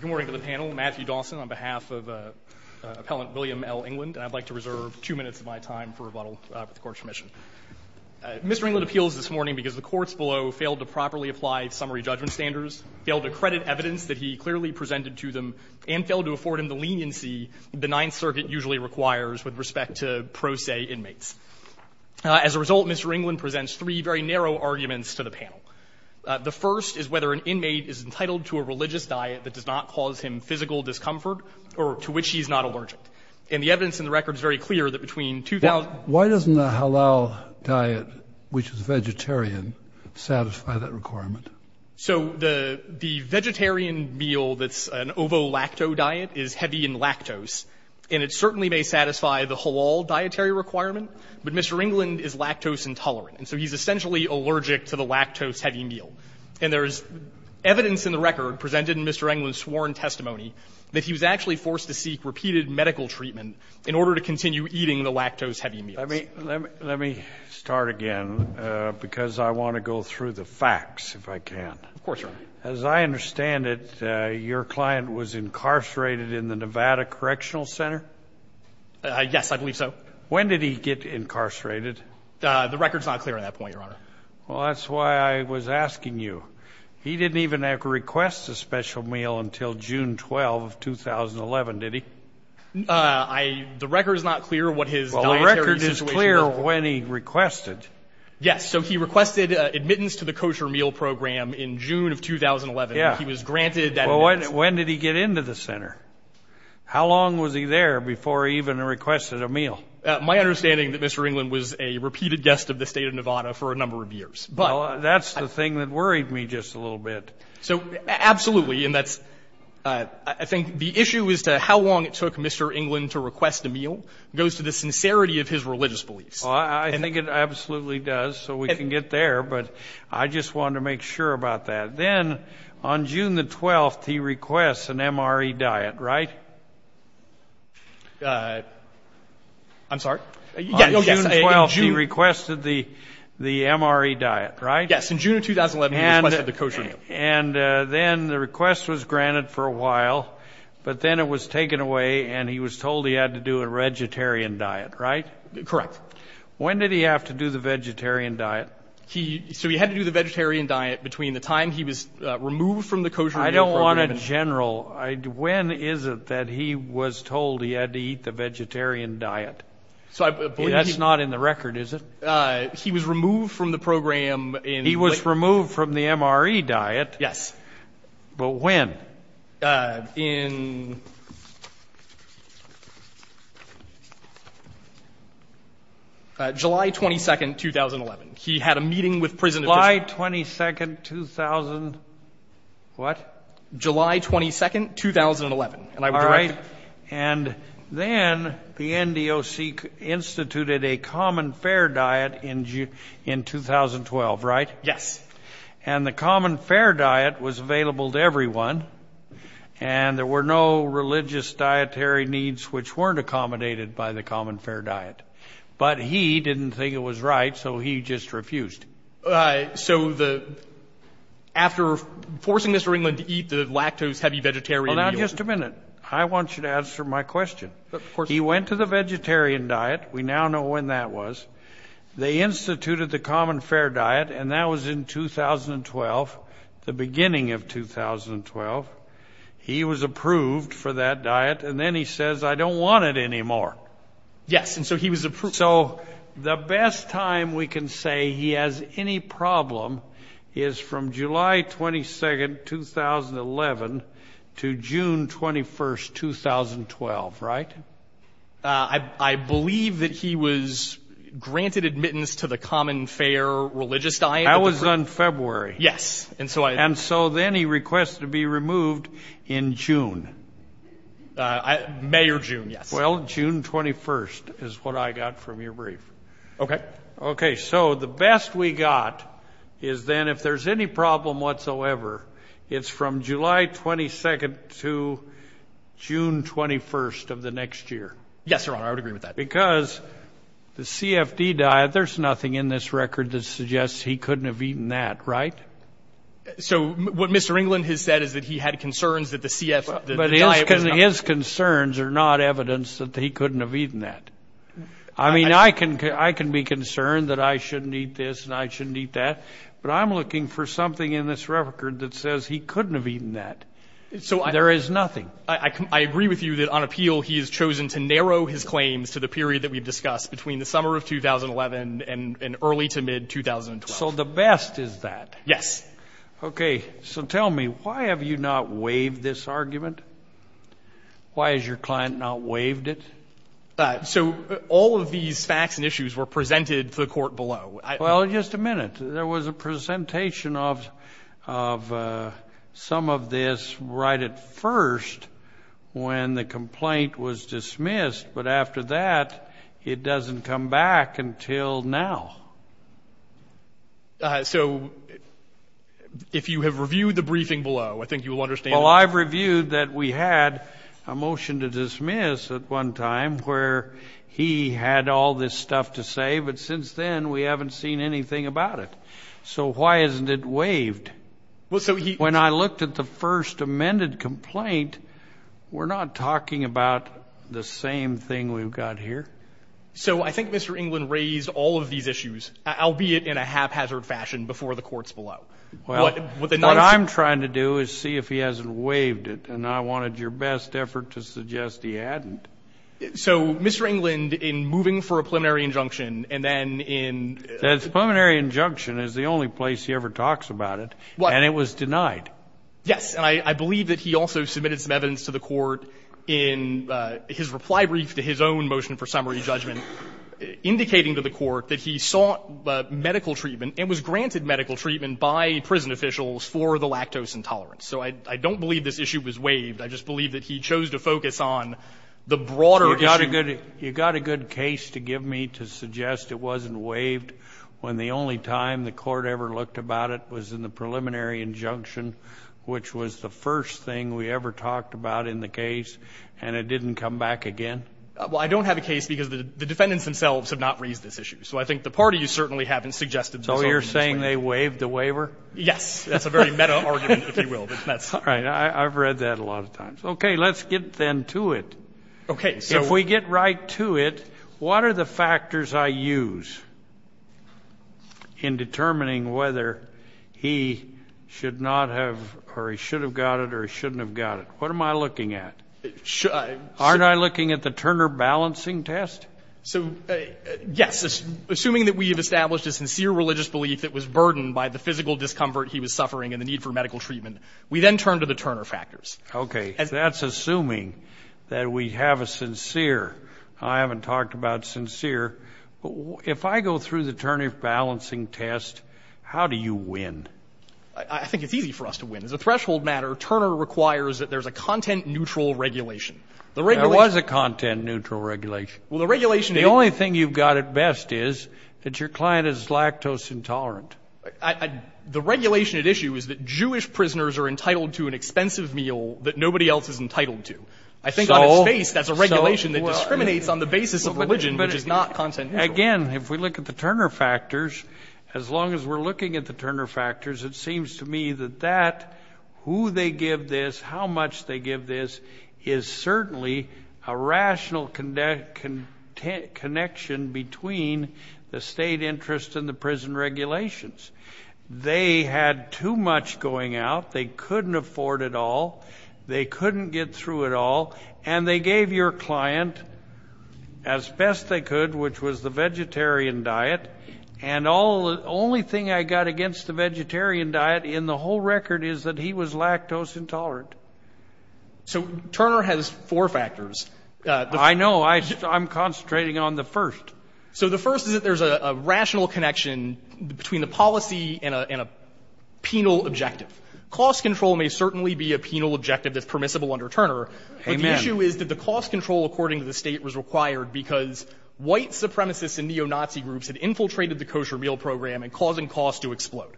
Good morning to the panel. Matthew Dawson on behalf of Appellant William L. England. And I'd like to reserve two minutes of my time for rebuttal with the Court's permission. Mr. England appeals this morning because the courts below failed to properly apply summary judgment standards, failed to credit evidence that he clearly presented to them, and failed to afford him the leniency the Ninth Circuit usually requires with respect to pro se inmates. As a result, Mr. England presents three very narrow arguments to the panel. The first is whether an inmate is entitled to a religious diet that does not cause him physical discomfort or to which he is not allergic. And the evidence in the record is very clear that between 2000 and 2000. Why doesn't the halal diet, which is vegetarian, satisfy that requirement? So the vegetarian meal that's an ovo-lacto diet is heavy in lactose. And it certainly may satisfy the halal dietary requirement, but Mr. England is lactose intolerant. And so he's essentially allergic to the lactose-heavy meal. And there's evidence in the record presented in Mr. England's sworn testimony that he was actually forced to seek repeated medical treatment in order to continue eating the lactose-heavy meals. Scalia. Let me start again, because I want to go through the facts, if I can. Of course, Your Honor. As I understand it, your client was incarcerated in the Nevada Correctional Center? Yes, I believe so. When did he get incarcerated? The record's not clear on that point, Your Honor. Well, that's why I was asking you. He didn't even request a special meal until June 12, 2011, did he? The record's not clear what his dietary situation was. Well, the record is clear when he requested. Yes. So he requested admittance to the kosher meal program in June of 2011. Yeah. He was granted that admittance. Well, when did he get into the center? How long was he there before he even requested a meal? My understanding is that Mr. Englund was a repeated guest of the state of Nevada for a number of years. Well, that's the thing that worried me just a little bit. So, absolutely, and that's – I think the issue as to how long it took Mr. Englund to request a meal goes to the sincerity of his religious beliefs. I think it absolutely does, so we can get there, but I just wanted to make sure about that. Then, on June the 12th, he requests an MRE diet, right? I'm sorry? On June the 12th, he requested the MRE diet, right? Yes, in June of 2011, he requested the kosher meal. And then the request was granted for a while, but then it was taken away, and he was told he had to do a vegetarian diet, right? Correct. When did he have to do the vegetarian diet? So he had to do the vegetarian diet between the time he was removed from the kosher meal program. I don't want a general. When is it that he was told he had to eat the vegetarian diet? That's not in the record, is it? He was removed from the program in – He was removed from the MRE diet. Yes. But when? In July 22, 2011. He had a meeting with prison – July 22, 2000 – what? July 22, 2011. All right, and then the NDOC instituted a common fair diet in 2012, right? Yes. And the common fair diet was available to everyone, and there were no religious dietary needs which weren't accommodated by the common fair diet. But he didn't think it was right, so he just refused. So after forcing Mr. Ringland to eat the lactose-heavy vegetarian meal – Hold on just a minute. I want you to answer my question. Of course. He went to the vegetarian diet. We now know when that was. They instituted the common fair diet, and that was in 2012, the beginning of 2012. He was approved for that diet, and then he says, I don't want it anymore. Yes, and so he was approved. So the best time we can say he has any problem is from July 22, 2011 to June 21, 2012, right? I believe that he was granted admittance to the common fair religious diet. That was on February. Yes. And so then he requested to be removed in June. May or June, yes. Well, June 21 is what I got from your brief. Okay. Okay. So the best we got is then if there's any problem whatsoever, it's from July 22 to June 21 of the next year. Yes, Your Honor. I would agree with that. Because the CFD diet, there's nothing in this record that suggests he couldn't have eaten that, right? So what Mr. Ringland has said is that he had concerns that the CFD diet was not – But his concerns are not evidence that he couldn't have eaten that. I mean, I can be concerned that I shouldn't eat this and I shouldn't eat that, but I'm looking for something in this record that says he couldn't have eaten that. There is nothing. I agree with you that on appeal he has chosen to narrow his claims to the period that we've discussed, between the summer of 2011 and early to mid-2012. So the best is that. Yes. Okay. So tell me, why have you not waived this argument? Why has your client not waived it? So all of these facts and issues were presented to the court below. Well, just a minute. There was a presentation of some of this right at first when the complaint was dismissed, but after that it doesn't come back until now. So if you have reviewed the briefing below, I think you will understand. Well, I've reviewed that we had a motion to dismiss at one time where he had all this stuff to say, but since then we haven't seen anything about it. So why isn't it waived? When I looked at the first amended complaint, we're not talking about the same thing we've got here. So I think Mr. Englund raised all of these issues, albeit in a haphazard fashion, before the courts below. Well, what I'm trying to do is see if he hasn't waived it, and I wanted your best effort to suggest he hadn't. So Mr. Englund, in moving for a preliminary injunction, and then in — The preliminary injunction is the only place he ever talks about it, and it was denied. Yes. And I believe that he also submitted some evidence to the Court in his reply brief to his own motion for summary judgment indicating to the Court that he sought medical treatment and was granted medical treatment by prison officials for the lactose intolerance. So I don't believe this issue was waived. I just believe that he chose to focus on the broader issue. You've got a good case to give me to suggest it wasn't waived when the only time the we ever talked about in the case, and it didn't come back again? Well, I don't have a case because the defendants themselves have not raised this issue. So I think the parties certainly haven't suggested this option. So you're saying they waived the waiver? Yes. That's a very meta argument, if you will. All right. I've read that a lot of times. Okay. Let's get then to it. Okay. If we get right to it, what are the factors I use in determining whether he should not have or he should have got it or he shouldn't have got it? What am I looking at? Aren't I looking at the Turner balancing test? So, yes. Assuming that we have established a sincere religious belief that was burdened by the physical discomfort he was suffering and the need for medical treatment, we then turn to the Turner factors. Okay. That's assuming that we have a sincere. I haven't talked about sincere. If I go through the Turner balancing test, how do you win? I think it's easy for us to win. As a threshold matter, Turner requires that there's a content-neutral regulation. There was a content-neutral regulation. Well, the regulation didn't. The only thing you've got at best is that your client is lactose intolerant. The regulation at issue is that Jewish prisoners are entitled to an expensive meal that nobody else is entitled to. I think on its face, that's a regulation that discriminates on the basis of religion, but it is not content-neutral. Again, if we look at the Turner factors, as long as we're looking at the Turner factors, it seems to me that that, who they give this, how much they give this, is certainly a rational connection between the state interest and the prison regulations. They had too much going out. They couldn't afford it all. They couldn't get through it all, and they gave your client as best they could, which was the vegetarian diet, and the only thing I got against the vegetarian diet in the whole record is that he was lactose intolerant. So Turner has four factors. I know. I'm concentrating on the first. So the first is that there's a rational connection between the policy and a penal objective. Cost control may certainly be a penal objective that's permissible under Turner, but the issue is that the cost control, according to the state, was required because white supremacists and neo-Nazi groups had infiltrated the kosher meal program and causing costs to explode.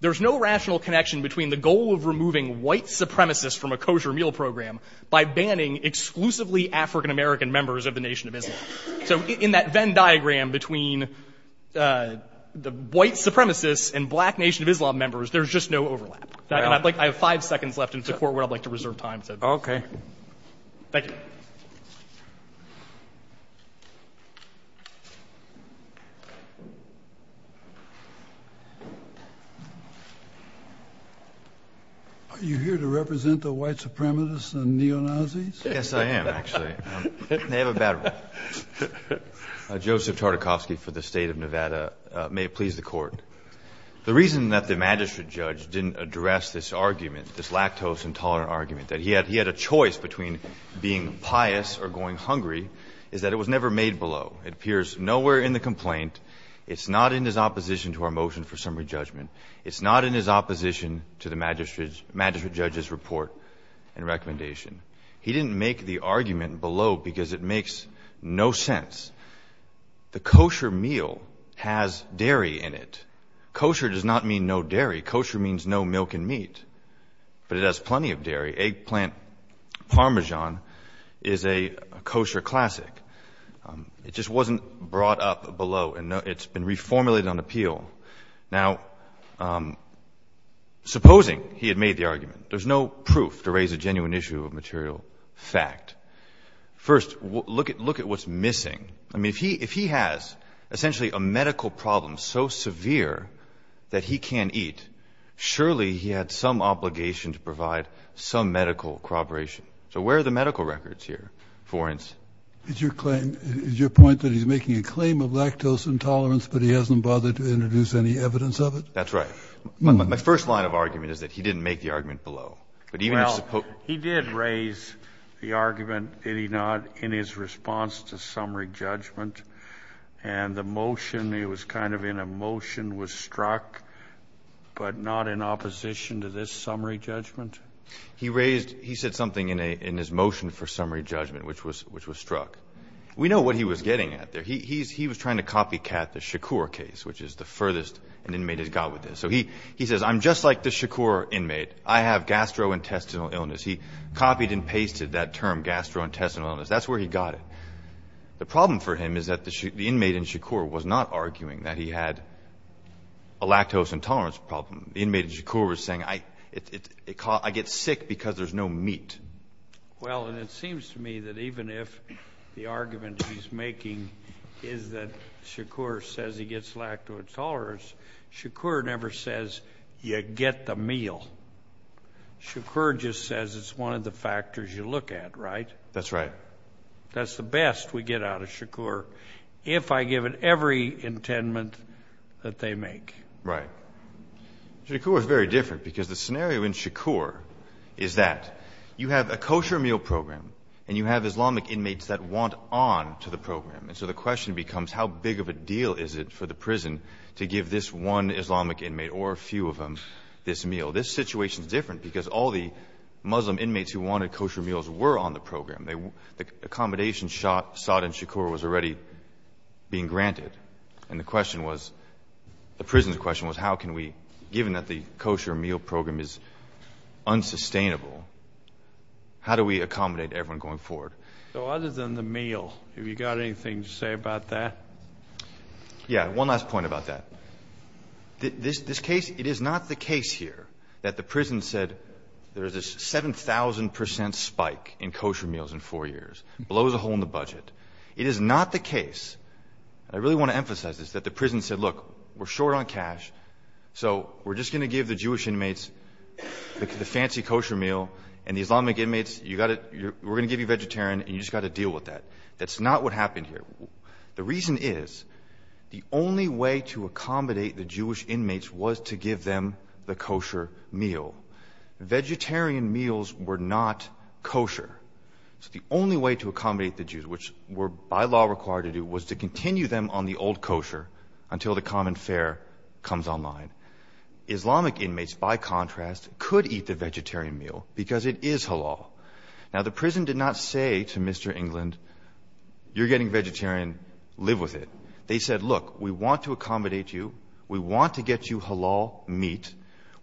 There's no rational connection between the goal of removing white supremacists from a kosher meal program by banning exclusively African-American members of the Nation of Islam. So in that Venn diagram between the white supremacists and black Nation of Islam members, there's just no overlap. And I have five seconds left in support where I'd like to reserve time. Okay. Thank you. Are you here to represent the white supremacists and neo-Nazis? Yes, I am, actually. They have a bad rep. Joseph Tartakovsky for the State of Nevada. May it please the Court. The reason that the magistrate judge didn't address this argument, this lactose intolerant argument, that he had a choice between being pious or going hungry, is that it was never made below. It appears nowhere in the complaint. It's not in his opposition to our motion for summary judgment. It's not in his opposition to the magistrate judge's report and recommendation. He didn't make the argument below because it makes no sense. The kosher meal has dairy in it. Kosher does not mean no dairy. Kosher means no milk and meat. But it has plenty of dairy. Eggplant parmesan is a kosher classic. It just wasn't brought up below, and it's been reformulated on appeal. Now, supposing he had made the argument, there's no proof to raise a genuine issue of material fact. First, look at what's missing. I mean, if he has essentially a medical problem so severe that he can't eat, surely he had some obligation to provide some medical corroboration. So where are the medical records here, for instance? It's your point that he's making a claim of lactose intolerance, but he hasn't bothered to introduce any evidence of it? That's right. My first line of argument is that he didn't make the argument below. Well, he did raise the argument, did he not, in his response to summary judgment. And the motion, it was kind of in a motion, was struck, but not in opposition to this summary judgment. He said something in his motion for summary judgment, which was struck. We know what he was getting at there. He was trying to copycat the Shakur case, which is the furthest an inmate has got with this. So he says, I'm just like the Shakur inmate. I have gastrointestinal illness. He copied and pasted that term, gastrointestinal illness. That's where he got it. The problem for him is that the inmate in Shakur was not arguing that he had a lactose intolerance problem. The inmate in Shakur was saying, I get sick because there's no meat. Well, and it seems to me that even if the argument he's making is that Shakur says he gets lactose intolerance, Shakur never says you get the meal. Shakur just says it's one of the factors you look at, right? That's right. That's the best we get out of Shakur, if I give it every intendment that they make. Right. Shakur is very different because the scenario in Shakur is that you have a kosher meal program and you have Islamic inmates that want on to the program. And so the question becomes how big of a deal is it for the prison to give this one Islamic inmate or a few of them this meal? This situation is different because all the Muslim inmates who wanted kosher meals were on the program. The accommodation sought in Shakur was already being granted. And the prison's question was how can we, given that the kosher meal program is unsustainable, how do we accommodate everyone going forward? So other than the meal, have you got anything to say about that? Yeah, one last point about that. This case, it is not the case here that the prison said there is a 7,000 percent spike in kosher meals in four years, blows a hole in the budget. It is not the case, and I really want to emphasize this, that the prison said, look, we're short on cash, so we're just going to give the Jewish inmates the fancy kosher meal, and the Islamic inmates, we're going to give you vegetarian and you've just got to deal with that. That's not what happened here. The reason is the only way to accommodate the Jewish inmates was to give them the kosher meal. Vegetarian meals were not kosher. So the only way to accommodate the Jews, which we're by law required to do, was to continue them on the old kosher until the common fare comes online. Islamic inmates, by contrast, could eat the vegetarian meal because it is halal. Now, the prison did not say to Mr. England, you're getting vegetarian, live with it. They said, look, we want to accommodate you. We want to get you halal meat.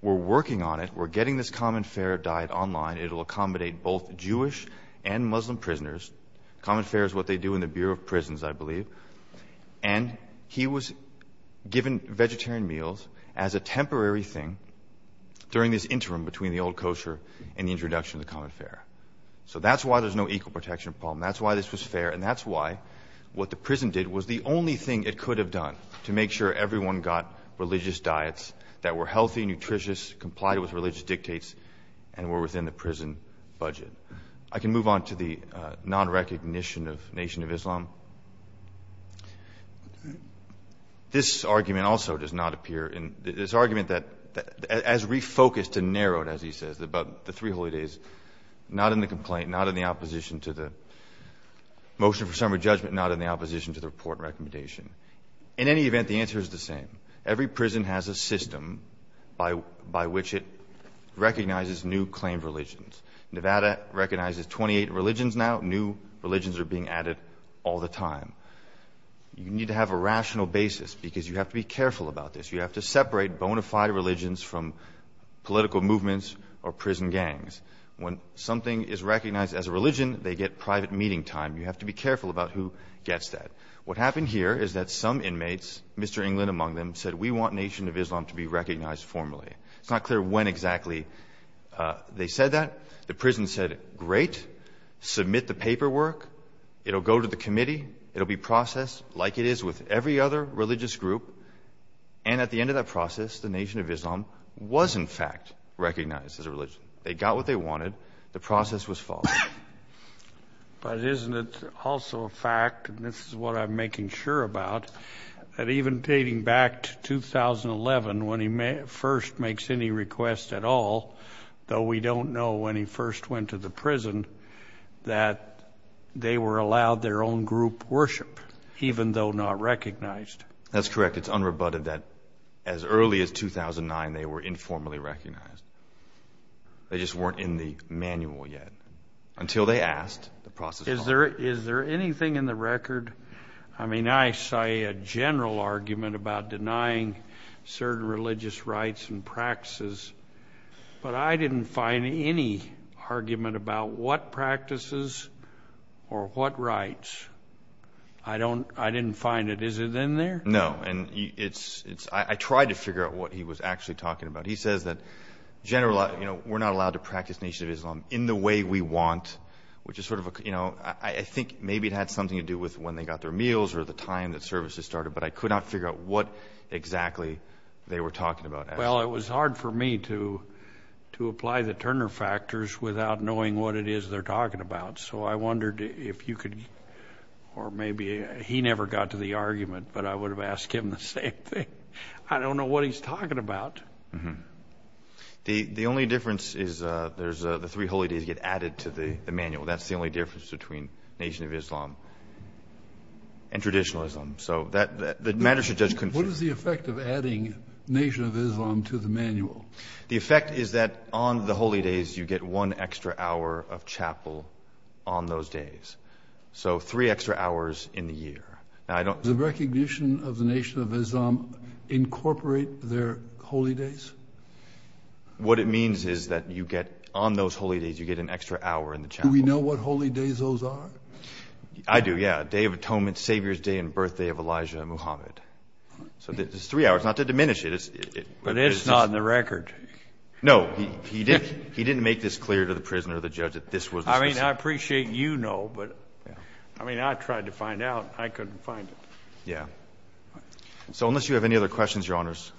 We're working on it. We're getting this common fare diet online. It will accommodate both Jewish and Muslim prisoners. Common fare is what they do in the Bureau of Prisons, I believe. And he was given vegetarian meals as a temporary thing during this interim between the old kosher and the introduction of the common fare. So that's why there's no equal protection problem. That's why this was fair, and that's why what the prison did was the only thing it could have done to make sure everyone got religious diets that were healthy, nutritious, complied with religious dictates, and were within the prison budget. I can move on to the non-recognition of Nation of Islam. This argument also does not appear in this argument as refocused and narrowed, as he says, about the Three Holy Days, not in the complaint, not in the opposition to the motion for summary judgment, not in the opposition to the report and recommendation. In any event, the answer is the same. Every prison has a system by which it recognizes new claimed religions. Nevada recognizes 28 religions now. New religions are being added all the time. You need to have a rational basis because you have to be careful about this. You have to separate bona fide religions from political movements or prison gangs. When something is recognized as a religion, they get private meeting time. You have to be careful about who gets that. What happened here is that some inmates, Mr. England among them, said we want Nation of Islam to be recognized formally. It's not clear when exactly they said that. The prison said, great, submit the paperwork. It will go to the committee. It will be processed like it is with every other religious group. And at the end of that process, the Nation of Islam was, in fact, recognized as a religion. They got what they wanted. The process was followed. But isn't it also a fact, and this is what I'm making sure about, that even dating back to 2011 when he first makes any request at all, though we don't know when he first went to the prison, that they were allowed their own group worship even though not recognized. That's correct. It's unrebutted that as early as 2009 they were informally recognized. They just weren't in the manual yet until they asked. Is there anything in the record? I mean, I say a general argument about denying certain religious rites and practices, but I didn't find any argument about what practices or what rites. I didn't find it. Is it in there? No, and I tried to figure out what he was actually talking about. He says that we're not allowed to practice Nation of Islam in the way we want, which is sort of a, you know, I think maybe it had something to do with when they got their meals or the time that services started, but I could not figure out what exactly they were talking about. Well, it was hard for me to apply the Turner factors without knowing what it is they're talking about. So I wondered if you could, or maybe he never got to the argument, but I would have asked him the same thing. I don't know what he's talking about. The only difference is the three holy days get added to the manual. That's the only difference between Nation of Islam and traditionalism. So the matter should just continue. What is the effect of adding Nation of Islam to the manual? The effect is that on the holy days you get one extra hour of chapel on those days. So three extra hours in the year. Does the recognition of the Nation of Islam incorporate their holy days? What it means is that on those holy days you get an extra hour in the chapel. Do we know what holy days those are? I do, yeah. Day of Atonement, Savior's Day, and birthday of Elijah and Muhammad. So it's three hours, not to diminish it. But it's not in the record. No, he didn't make this clear to the prisoner or the judge that this was. I mean, I appreciate you know, but, I mean, I tried to find out. I couldn't find it. Yeah. So unless you have any other questions, Your Honors.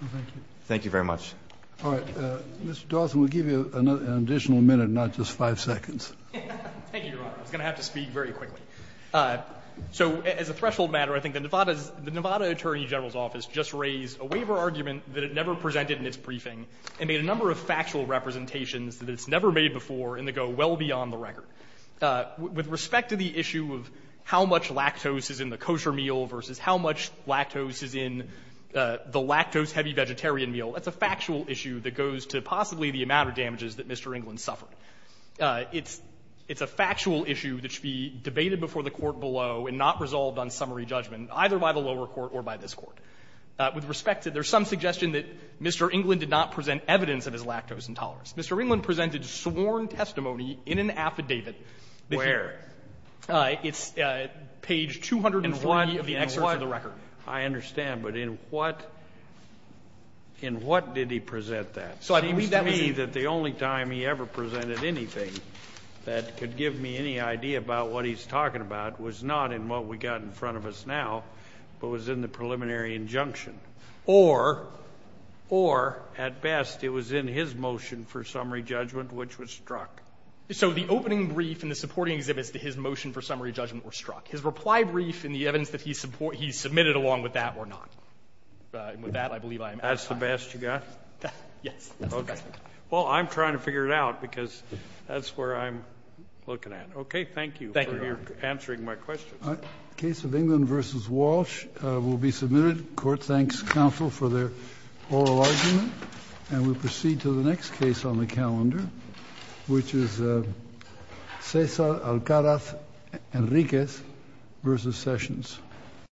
No, thank you. Thank you very much. All right. Mr. Dawson, we'll give you an additional minute, not just five seconds. Thank you, Your Honor. I was going to have to speak very quickly. So as a threshold matter, I think the Nevada Attorney General's Office just raised a waiver argument that it never presented in its briefing and made a number of factual representations that it's never made before and that go well beyond the record. With respect to the issue of how much lactose is in the kosher meal versus how much lactose is in the lactose-heavy vegetarian meal, that's a factual issue that goes to possibly the amount of damages that Mr. England suffered. It's a factual issue that should be debated before the Court below and not resolved on summary judgment, either by the lower court or by this Court. With respect to it, there's some suggestion that Mr. England did not present evidence of his lactose intolerance. Mr. England presented sworn testimony in an affidavit. Where? It's page 240 of the excerpt of the record. I understand. But in what did he present that? So it seems to me that the only time he ever presented anything that could give me any idea about what he's talking about was not in what we've got in front of us now, but it was in the preliminary injunction. Or, or, at best, it was in his motion for summary judgment, which was struck. So the opening brief and the supporting exhibits to his motion for summary judgment were struck. His reply brief and the evidence that he submitted along with that were not. With that, I believe I am out of time. That's the best you got? Yes. Okay. Well, I'm trying to figure it out, because that's where I'm looking at. Okay, thank you. Thank you, Your Honor. For answering my questions. The case of England v. Walsh will be submitted. Court thanks counsel for their oral argument. And we proceed to the next case on the calendar, which is Cesar Alcaraz Enriquez v. Sessions.